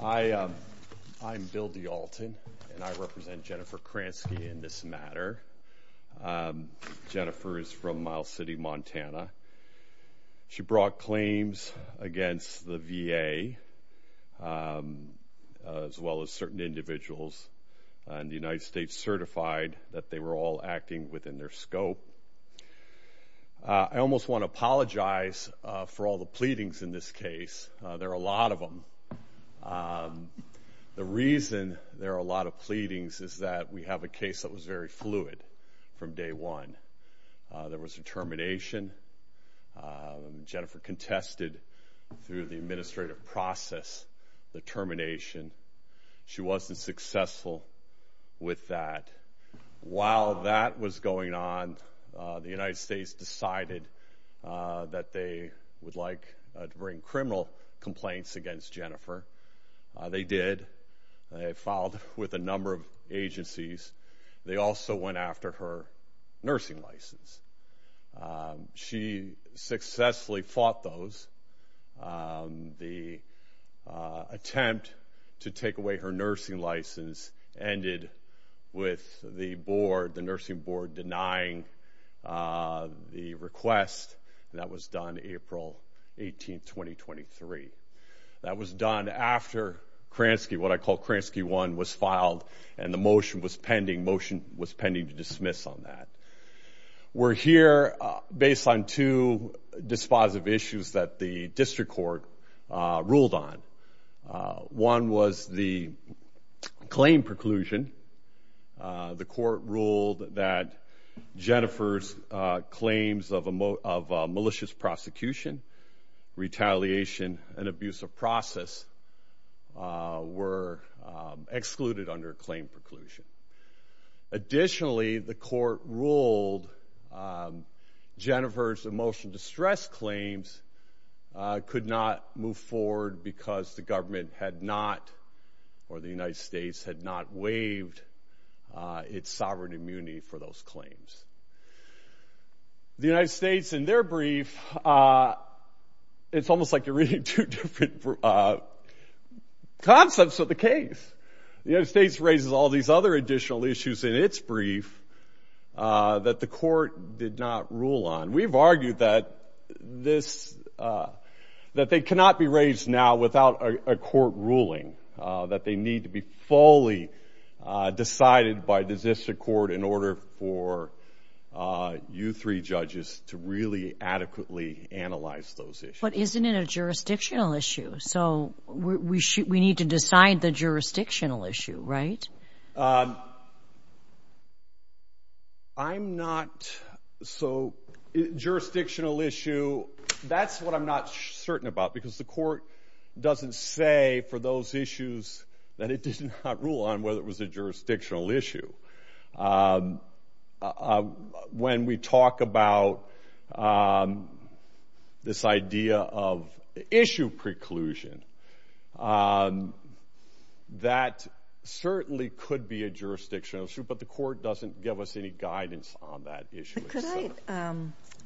I'm Bill D'Alton and I represent Jennifer Kransky in this matter. Jennifer is from Miles City, Montana. She brought claims against the VA as well as certain individuals and the United States certified that they were all acting within their scope. I almost want to apologize for all the pleadings in this case. There are a lot of them. The reason there are a lot of pleadings is that we have a case that was very fluid from day one. There was a termination. Jennifer contested through the administrative process the termination. She wasn't successful with that. While that was going on the United States decided that they would like to bring criminal complaints against Jennifer. They did. They filed with a number of agencies. They also went after her nursing license. She successfully fought those. The attempt to take away her license ended with the board, the nursing board denying the request. That was done April 18, 2023. That was done after Kransky, what I call Kransky 1, was filed and the motion was pending. Motion was pending to dismiss on that. We're here based on two dispositive issues that the district court ruled on. One was the claim preclusion. The court ruled that Jennifer's claims of a malicious prosecution, retaliation, and abuse of process were excluded under a claim preclusion. Additionally, the court ruled Jennifer's emotional distress claims could not move forward because the government had not, or the United States, had not waived its sovereign immunity for those claims. The United States, in their brief, it's almost like you're reading two different concepts of the case. The United States raises all these other additional issues in its brief that the court did not rule on. We've argued that this, that they cannot be raised now without a court ruling, that they need to be fully decided by the district court in order for you three judges to really adequately analyze those issues. But isn't it a jurisdictional issue? So we should, we I'm not, so jurisdictional issue, that's what I'm not certain about because the court doesn't say for those issues that it did not rule on whether it was a jurisdictional issue. When we talk about this idea of issue preclusion, that certainly could be a jurisdictional issue, but the court doesn't give us any guidance on that issue. Could I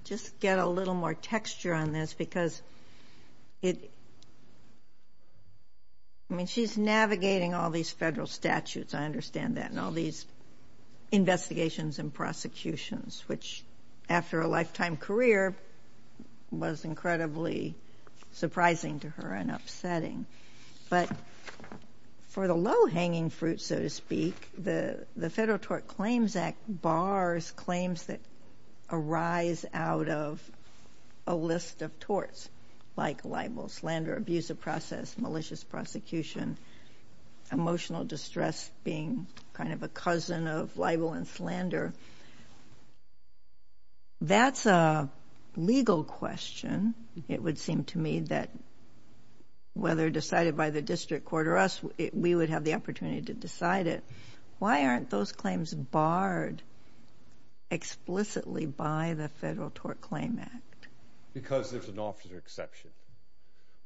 just get a little more texture on this because it, I mean, she's navigating all these federal statutes, I understand that, and all these investigations and prosecutions, which after a lifetime career was incredibly surprising to her and upsetting. But for the low-hanging fruit, so to speak, the the Federal Tort Claims Act bars claims that arise out of a list of torts, like libel, slander, abuse of process, malicious prosecution, emotional distress being kind of a cousin of libel and slander. That's a legal question. It would seem to me that whether decided by the district court or us, we would have the opportunity to decide it. Why aren't those claims barred explicitly by the Federal Tort Claim Act? Because there's an officer exception.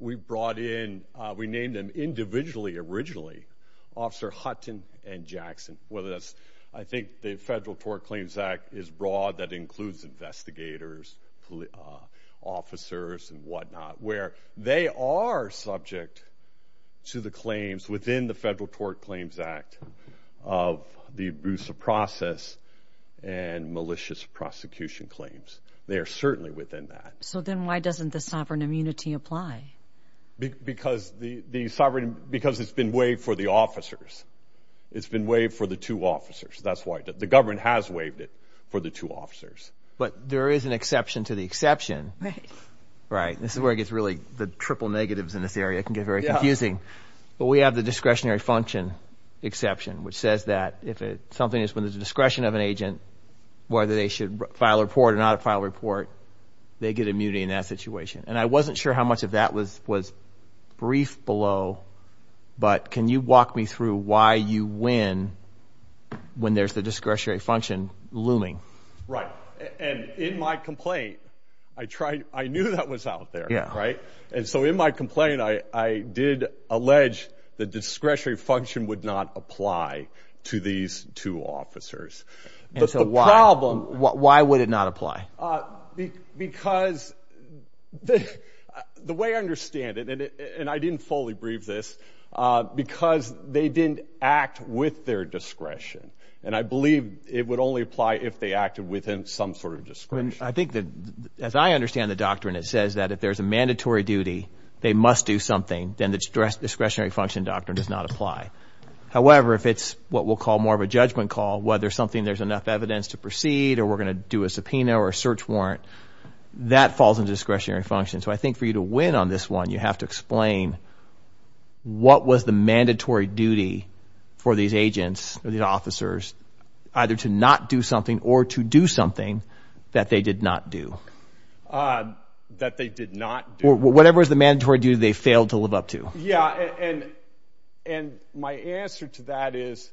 We brought in, we named them individually originally, Officer Hutton and Jackson. Whether that's, I think the Federal Tort Claims Act is broad, that includes investigators, officers and whatnot, where they are subject to the claims within the Federal Tort Claims Act of the abuse of process and malicious prosecution claims. They are certainly within that. So then why doesn't the sovereign immunity apply? Because the sovereign, because it's been waived for the officers. It's been waived for the two officers. That's why. The government has waived it for the two officers. But there is an exception to the exception. Right. Right. This is where it gets really, the triple negatives in this area can get very confusing. But we have the discretionary function exception, which says that if it, something is when there's a discretion of an agent, whether they should file a report or not a file report, they get immunity in that situation. And I wasn't sure how much of that was brief below, but can you walk me through why you win when there's the discretionary function looming? Right. And in my complaint, I tried, I knew that was out there. Yeah. Right. And so in my complaint, I did allege the discretionary function would not apply to these two officers. And so why? Why would it not apply? Because the way I understand it, and I didn't fully brief this, because they didn't act with their discretion. And I believe it would only apply if they acted within some sort of discretion. I think that as I understand the doctrine, it says that if there's a mandatory duty, they must do something. Then the discretionary function doctrine does not apply. However, if it's what we'll call more of a judgment call, whether something, there's enough evidence to proceed or we're going to do a subpoena or a search warrant, that falls in discretionary function. So I think for you to win on this one, you have to explain what was the mandatory duty for these agents or these officers, either to not do something or to do something that they did not do. That they did not do. Or whatever was the mandatory duty they failed to live up to. Yeah. And my answer to that is,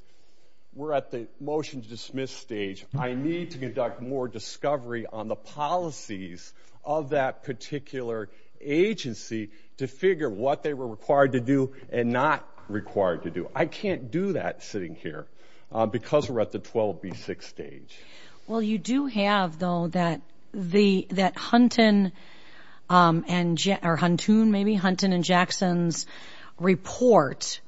we're at the motion to dismiss stage. I need to conduct more discovery on the policies of that particular agency to figure what they were required to do and not required to do. I can't do that sitting here, because we're at the 12B6 stage. Well, you do have, though, that Hunton and Jackson's report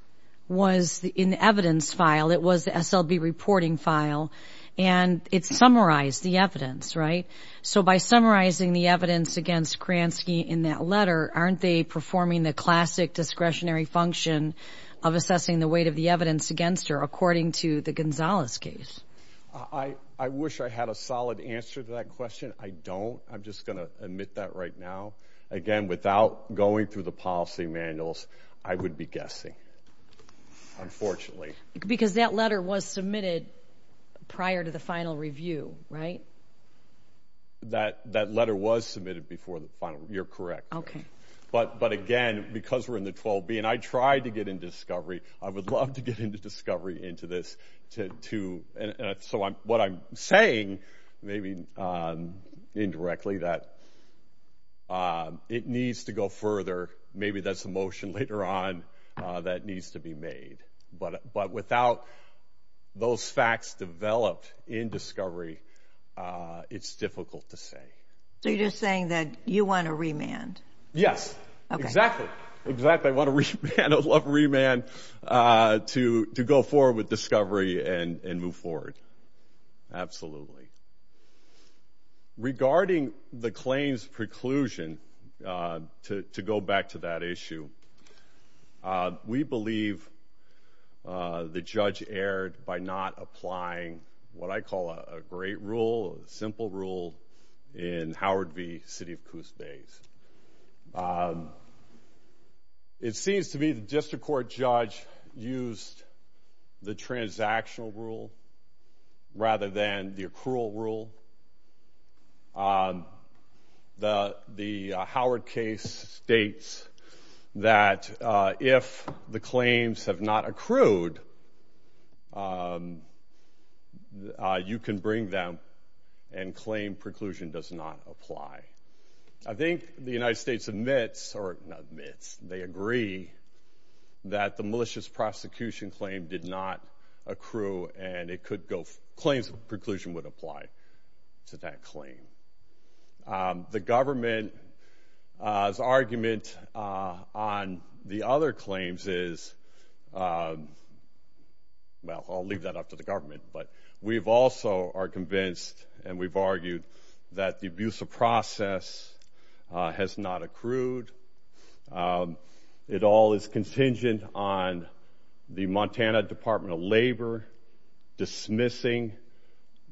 was in the evidence file. It was the SLB reporting file. And it summarized the evidence, right? So by summarizing the evidence against Kransky in that letter, aren't they performing the classic discretionary function of assessing the weight of the evidence against her, according to the Gonzalez case? I wish I had a solid answer to that question. I don't. I'm just going to admit that right now. Again, without going through the policy manuals, I would be guessing, unfortunately. Because that letter was submitted prior to the final review, right? That letter was submitted before the final. You're correct. But again, because we're in the 12B, and I tried to get into discovery, I would love to get into discovery into this. So what I'm saying, maybe indirectly, that it needs to go further. Maybe that's a motion later on that needs to be made. But without those facts developed in discovery, it's difficult to say. So you're just saying that you want to remand? Yes. Exactly. Exactly. I want to remand to go forward with discovery and move forward. Absolutely. Regarding the claims preclusion, to go back to that issue, we believe the judge erred by not applying what I call a great rule, a simple rule, in Howard v. City of Coos Bay. It seems to me the district court judge used the transactional rule rather than the accrual rule. The Howard case states that if the claims have not accrued, you can bring them and claim preclusion does not apply. I think the United States admits, or not admits, they agree that the malicious prosecution claim did not accrue and claims preclusion would apply to that claim. The government's argument on the other claims is, well, I'll leave that up to the government, but we also are convinced and we've argued that the abuse of process has not accrued. It all is contingent on the Montana Department of Labor dismissing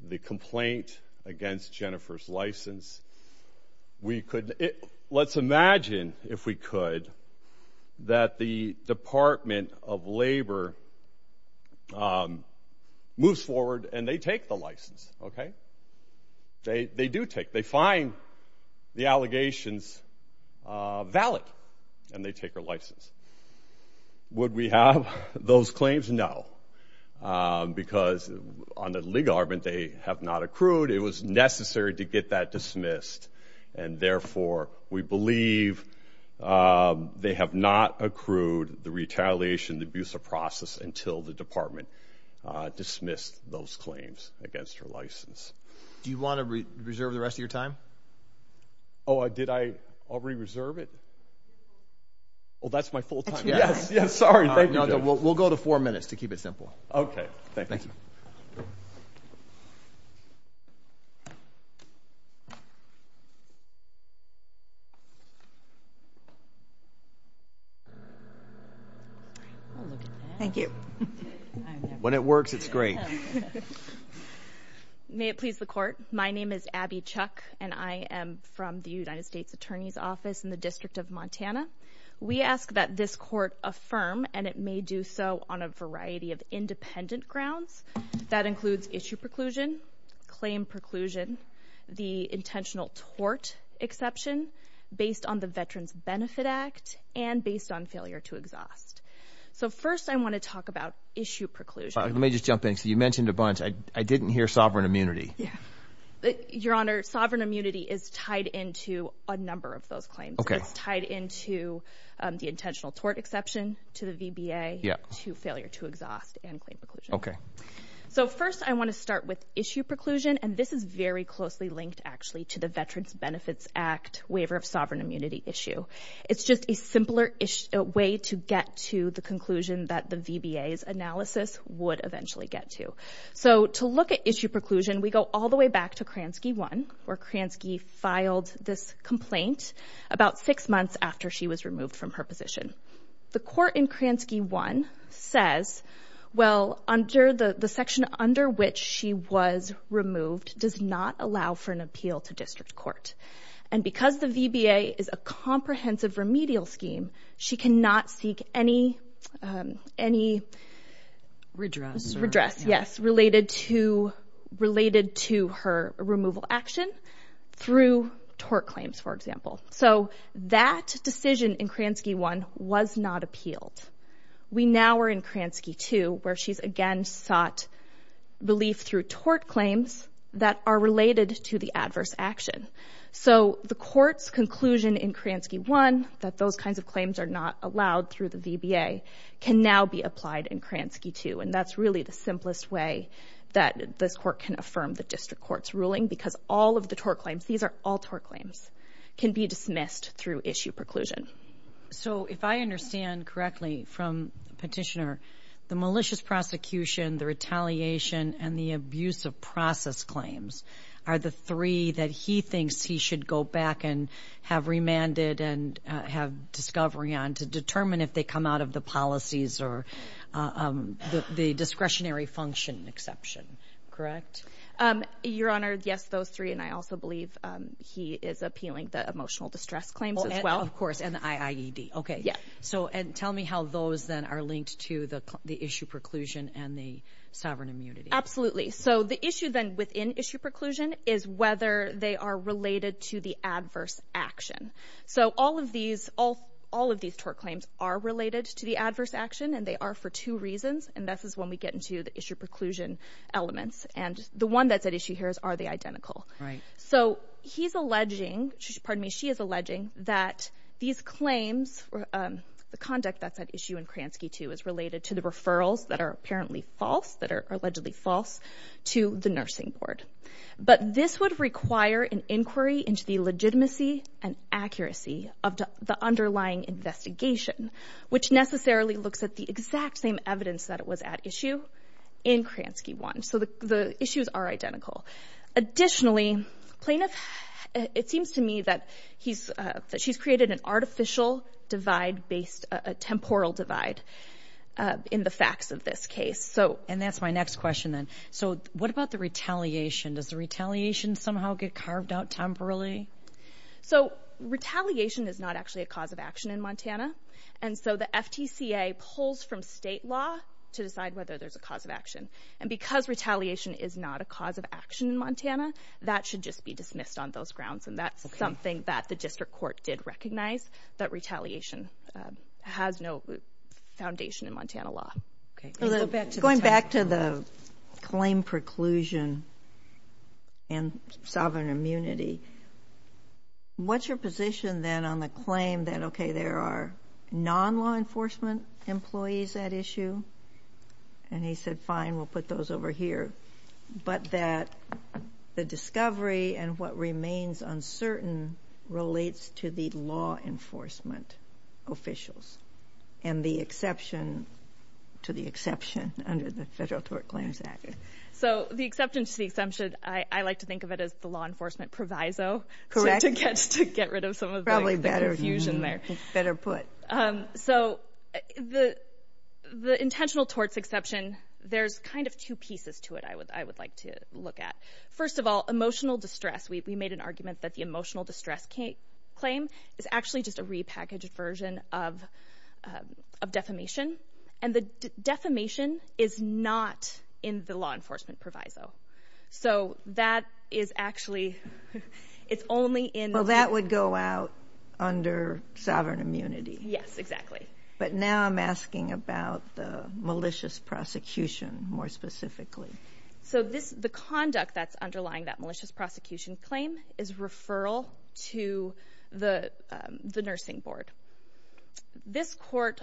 the complaint against Jennifer's license. Let's imagine, if we could, that the Department of Labor moves forward and they take the license. They do take. They find the allegations valid and they take her license. Would we have those claims? No. Because on the legal argument, they have not accrued. It was necessary to get that dismissed and therefore, we believe they have not accrued the retaliation, the abuse of process until the department dismissed those claims against her license. Do you want to reserve the rest of your time? Did I already reserve it? That's my full time. Yes. Sorry. We'll go to four minutes to keep it simple. Thank you. Thank you. When it works, it's great. May it please the court, my name is Abby Chuck and I am from the United States Attorney's Office in the District of Montana. We ask that this court affirm and it may do so on a variety of independent grounds. That includes issue preclusion, claim preclusion, the intentional tort exception based on the Veterans Benefit Act and based on failure to exhaust. So first, I want to talk about issue preclusion. Let me just jump in. So you mentioned a bunch. I didn't hear sovereign immunity. Your Honor, sovereign immunity is tied into a number of those claims. Okay. It's tied into the intentional tort exception to the VBA, to failure to exhaust and claim preclusion. Okay. So first, I want to start with issue preclusion and this is very closely linked actually to the Veterans Benefits Act waiver of sovereign immunity issue. It's just a simpler way to get to the conclusion that the VBA's analysis would eventually get to. So to look at issue preclusion, we go all the way back to Kransky 1, where Kransky filed this complaint about six months after she was removed from her position. The court in Kransky 1 says, well, the section under which she was removed does not allow for an appeal to district court. And because the VBA is a comprehensive remedial scheme, she cannot seek any redress, yes, related to her removal action through tort claims, for example. So that decision in Kransky 1 was not appealed. We now are in Kransky 2, where she's again sought relief through tort claims that are related to the adverse action. So the court's conclusion in Kransky 1 that those kinds of claims are not allowed through the VBA can now be applied in Kransky 2. And that's really the simplest way that this court can affirm the district court's ruling, because all of the tort claims, these are all tort claims, can be dismissed through issue preclusion. So if I understand correctly from Petitioner, the malicious prosecution, the retaliation, and the abuse of process claims are the three that he thinks he should go back and have remanded and have discovery on to determine if they come out of the policies or the discretionary function exception, correct? Your Honor, yes, those three, and I also believe he is appealing the emotional distress claims as well. Of course, and the IIED. Okay. Yes. So, and tell me how those then are linked to the issue preclusion and the sovereign immunity. Absolutely. So the issue then within issue preclusion is whether they are related to the adverse action. So all of these, all of these tort claims are related to the adverse action and they are for two reasons, and this is when we get into the issue preclusion elements. And the one that's at issue here is, are they identical? So he's alleging, pardon me, she is alleging that these claims, the conduct that's at issue in Kransky II is related to the referrals that are apparently false, that are allegedly false to the nursing board. But this would require an inquiry into the legitimacy and accuracy of the underlying investigation, which necessarily looks at the exact same evidence that it was at issue in Kransky I. So the issues are identical. Additionally, plaintiff, it seems to me that he's, that she's created an artificial divide based, a temporal divide in the facts of this case. So. And that's my next question then. So what about the retaliation? Does the retaliation somehow get carved out temporarily? So retaliation is not actually a cause of action in Montana. And so the FTCA pulls from state law to decide whether there's a cause of action. And because retaliation is not a cause of action in Montana, that should just be dismissed on those grounds. And that's something that the district court did recognize, that retaliation has no foundation in Montana law. Okay. Going back to the claim preclusion and sovereign immunity, what's your position then on the claim that, okay, there are non-law enforcement employees at issue? And he said, fine, we'll put those over here. But that the discovery and what remains uncertain relates to the law enforcement officials. And the exception to the exception under the Federal Tort Claims Act. So the exception to the exemption, I like to think of it as the law enforcement proviso. To get rid of some of the confusion there. Probably better. Better put. So the intentional torts exception, there's kind of two pieces to it I would like to look at. First of all, emotional distress. We made an argument that the emotional distress claim is actually just a repackaged version of defamation. And the defamation is not in the law enforcement proviso. So that is actually, it's only in- Well, that would go out under sovereign immunity. Yes, exactly. But now I'm asking about the malicious prosecution more specifically. So the conduct that's underlying that malicious prosecution claim is referral to the nursing board. This court,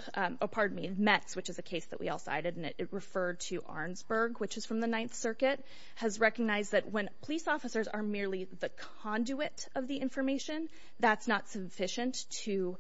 pardon me, METS, which is a case that we all cited, and it referred to Arnsberg, which is from the Ninth Circuit, has recognized that when police officers are merely the conduit of the information, that's not sufficient to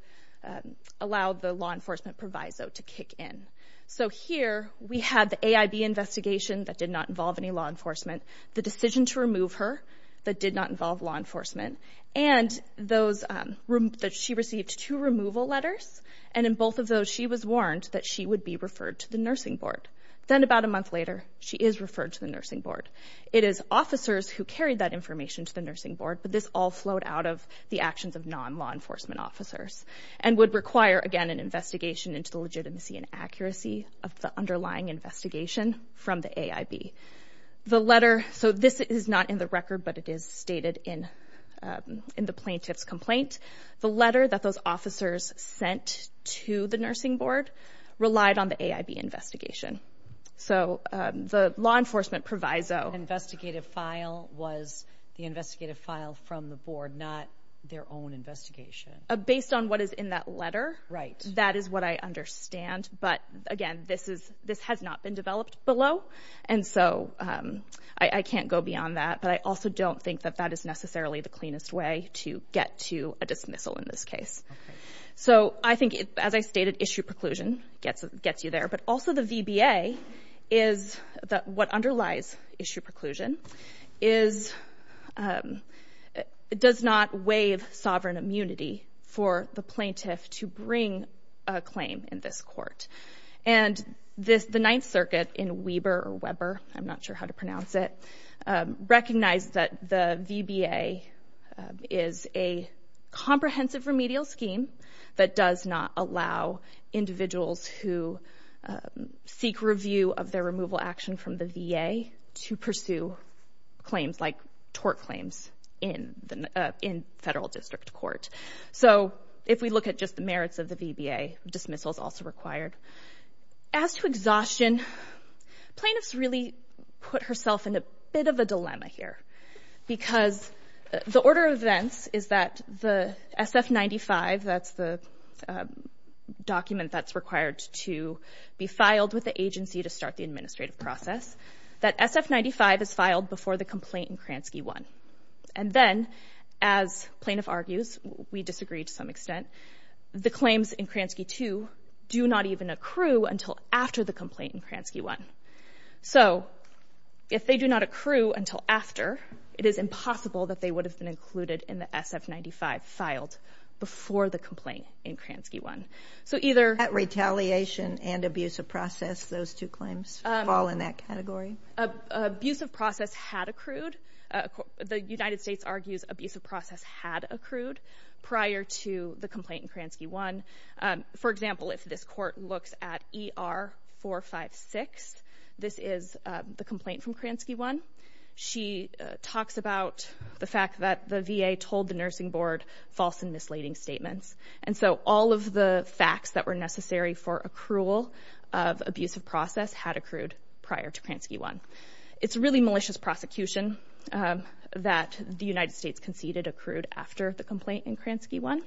allow the law enforcement proviso to kick in. So here, we had the AIB investigation that did not involve any law enforcement, the decision to remove her that did not involve law enforcement, and that she received two removal letters. And in both of those, she was warned that she would be referred to the nursing board. Then about a month later, she is referred to the nursing board. It is officers who carried that information to the nursing board, but this all flowed out of the actions of non-law enforcement officers and would require, again, an investigation into the legitimacy and accuracy of the underlying investigation from the AIB. The letter, so this is not in the record, but it is stated in the plaintiff's complaint. The letter that those officers sent to the nursing board relied on the AIB investigation. So the law enforcement proviso. Investigative file was the investigative file from the board, not their own investigation. Based on what is in that letter, that is what I understand, but again, this has not been developed below, and so I can't go beyond that, but I also don't think that that is necessarily the cleanest way to get to a dismissal in this case. So I think, as I stated, issue preclusion gets you there, but also the VBA is that what underlies issue preclusion does not waive sovereign immunity for the plaintiff to bring a claim in this court. And the Ninth Circuit in Weber, I'm not sure how to pronounce it, recognized that the VBA is a comprehensive remedial scheme that does not allow individuals who seek review of their removal action from the VA to pursue claims like tort claims in federal district court. So if we look at just the merits of the VBA, dismissal is also required. As to exhaustion, plaintiff's really put herself in a bit of a dilemma here, because the order of events is that the SF-95, that's the document that's required to be filed with the agency to start the administrative process, that SF-95 is filed before the complaint in Kransky-1. And then, as plaintiff argues, we disagree to some extent, the claims in Kransky-2 do not even accrue until after the complaint in Kransky-1. So if they do not accrue until after, it is impossible that they would have been included in the SF-95 filed before the complaint in Kransky-1. So either— At retaliation and abusive process, those two claims fall in that category? Abusive process had accrued. The United States argues abusive process had accrued prior to the complaint in Kransky-1. For example, if this court looks at ER-456, this is the complaint from Kransky-1. She talks about the fact that the VA told the nursing board false and misleading statements. And so all of the facts that were necessary for accrual of abusive process had accrued prior to Kransky-1. It's really malicious prosecution that the United States conceded accrued after the complaint in Kransky-1.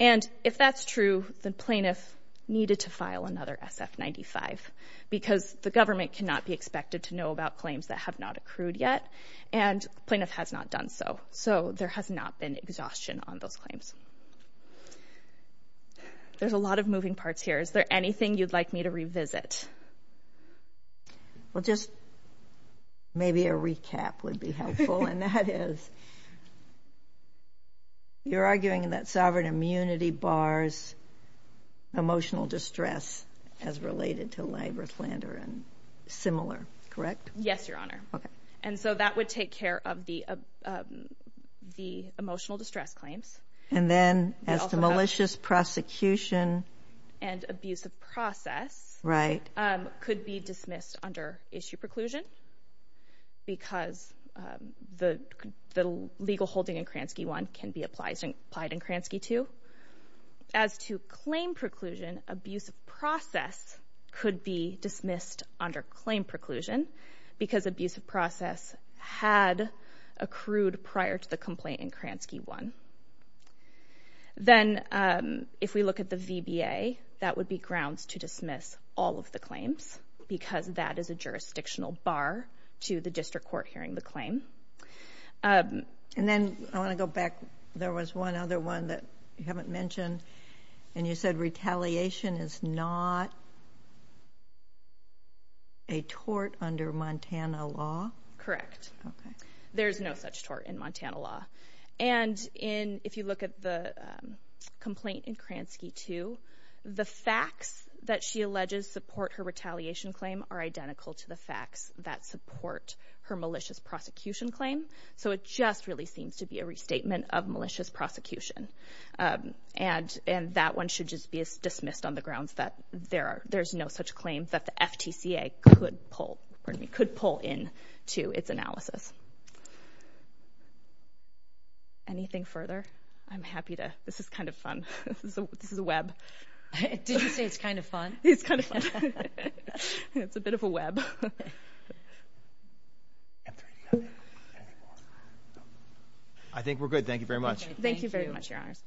And if that's true, the plaintiff needed to file another SF-95 because the government cannot be expected to know about claims that have not accrued yet. And the plaintiff has not done so. So there has not been exhaustion on those claims. There's a lot of moving parts here. Is there anything you'd like me to revisit? Well, just maybe a recap would be helpful. And that is, you're arguing that sovereign immunity bars emotional distress as related to labor slander and similar, correct? Yes, Your Honor. Okay. And so that would take care of the emotional distress claims. And then as to malicious prosecution. And abusive process could be dismissed under issue preclusion because the legal holding in Kransky-1 can be applied in Kransky-2. As to claim preclusion, abusive process could be dismissed under claim preclusion because abusive process had accrued prior to the complaint in Kransky-1. Then, if we look at the VBA, that would be grounds to dismiss all of the claims because that is a jurisdictional bar to the district court hearing the claim. And then, I want to go back. There was one other one that you haven't mentioned. And you said retaliation is not a tort under Montana law? Correct. Okay. There's no such tort in Montana law. And if you look at the complaint in Kransky-2, the facts that she alleges support her retaliation claim are identical to the facts that support her malicious prosecution claim. So it just really seems to be a restatement of malicious prosecution. And that one should just be dismissed on the grounds that there's no such claim that the FTCA could pull in to its analysis. Anything further? I'm happy to. This is kind of fun. This is a web. Did you say it's kind of fun? It's kind of fun. It's a bit of a web. I think we're good. Thank you very much. Thank you very much, Your Honors.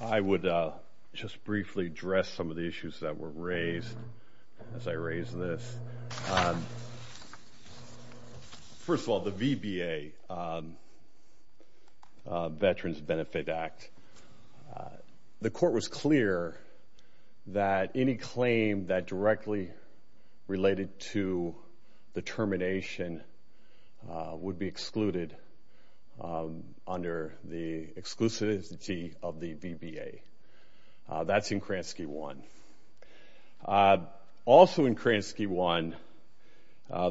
I would just briefly address some of the issues that were raised as I raise this. First of all, the VBA, Veterans Benefit Act, the court was clear that any claim that directly related to the termination would be excluded under the exclusivity of the VBA. That's in Kransky-1. Also in Kransky-1,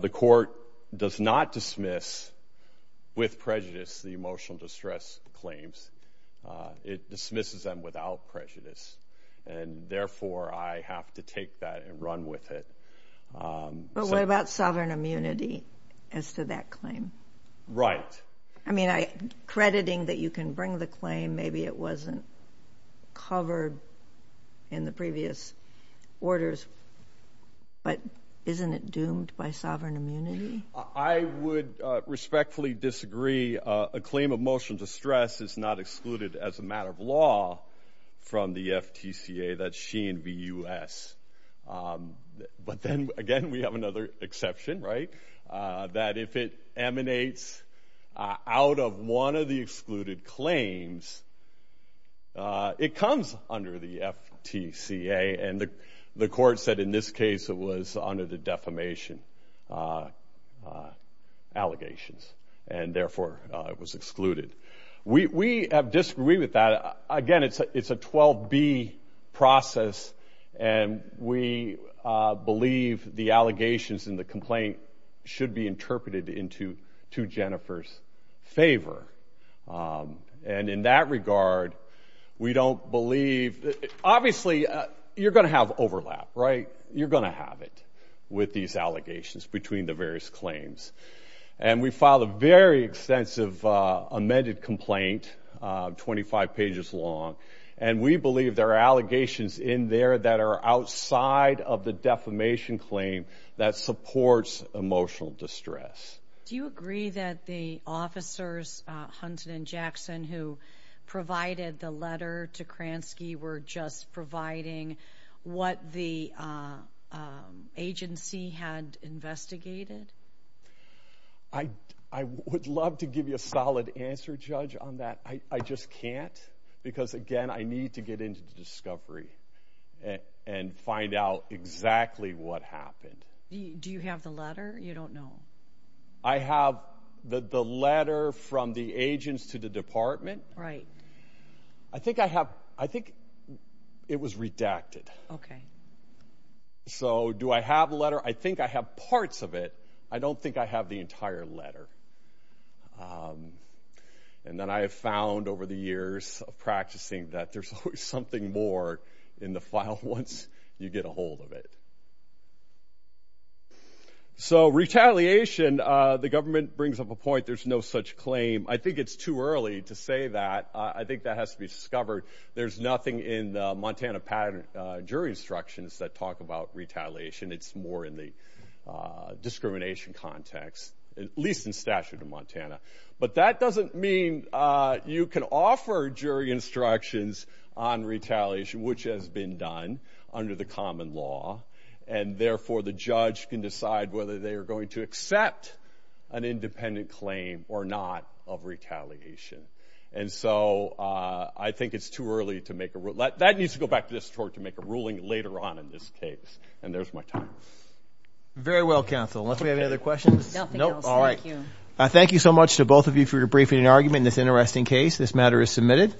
the court does not dismiss with prejudice the emotional distress claims. It dismisses them without prejudice. And therefore, I have to take that and run with it. But what about sovereign immunity as to that claim? I mean, crediting that you can bring the claim, maybe it wasn't covered in the previous orders. But isn't it doomed by sovereign immunity? I would respectfully disagree. A claim of emotional distress is not excluded as a matter of law from the FTCA. That's Sheehan v. U.S. But then again, we have another exception, right? That if it emanates out of one of the excluded claims, it comes under the FTCA. And the court said in this case it was under the defamation allegations. And therefore, it was excluded. We have disagreed with that. Again, it's a 12B process. And we believe the allegations in the complaint should be interpreted into Jennifer's favor. And in that regard, we don't believe... Obviously, you're going to have overlap, right? You're going to have it with these allegations between the various claims. And we filed a very extensive amended complaint, 25 pages long. And we believe there are allegations in there that are outside of the defamation claim that supports emotional distress. Do you agree that the officers, Hunton and Jackson, who provided the letter to Kransky were just providing what the agency had investigated? I would love to give you a solid answer, Judge, on that. I just can't. Because again, I need to get into the discovery and find out exactly what happened. Do you have the letter? You don't know. I have the letter from the agents to the department. Right. I think it was redacted. Okay. So, do I have the letter? I think I have parts of it. I don't think I have the entire letter. And then I have found over the years of practicing that there's always something more in the file once you get a hold of it. So, retaliation. The government brings up a point. There's no such claim. I think it's too early to say that. I think that has to be discovered. There's nothing in the Montana Patent and Jury Instructions that talk about retaliation. It's more in the discrimination context, at least in statute of Montana. But that doesn't mean you can offer jury instructions on retaliation, which has been done under the common law, and therefore the judge can decide whether they are going to accept an independent claim or not of retaliation. And so, I think it's too early to make a rule. That needs to go back to this court to make a ruling later on in this case. And there's my time. Very well, counsel. Unless we have any other questions? Nothing else. Thank you. Thank you so much to both of you for your briefing and argument in this interesting case. This matter is submitted.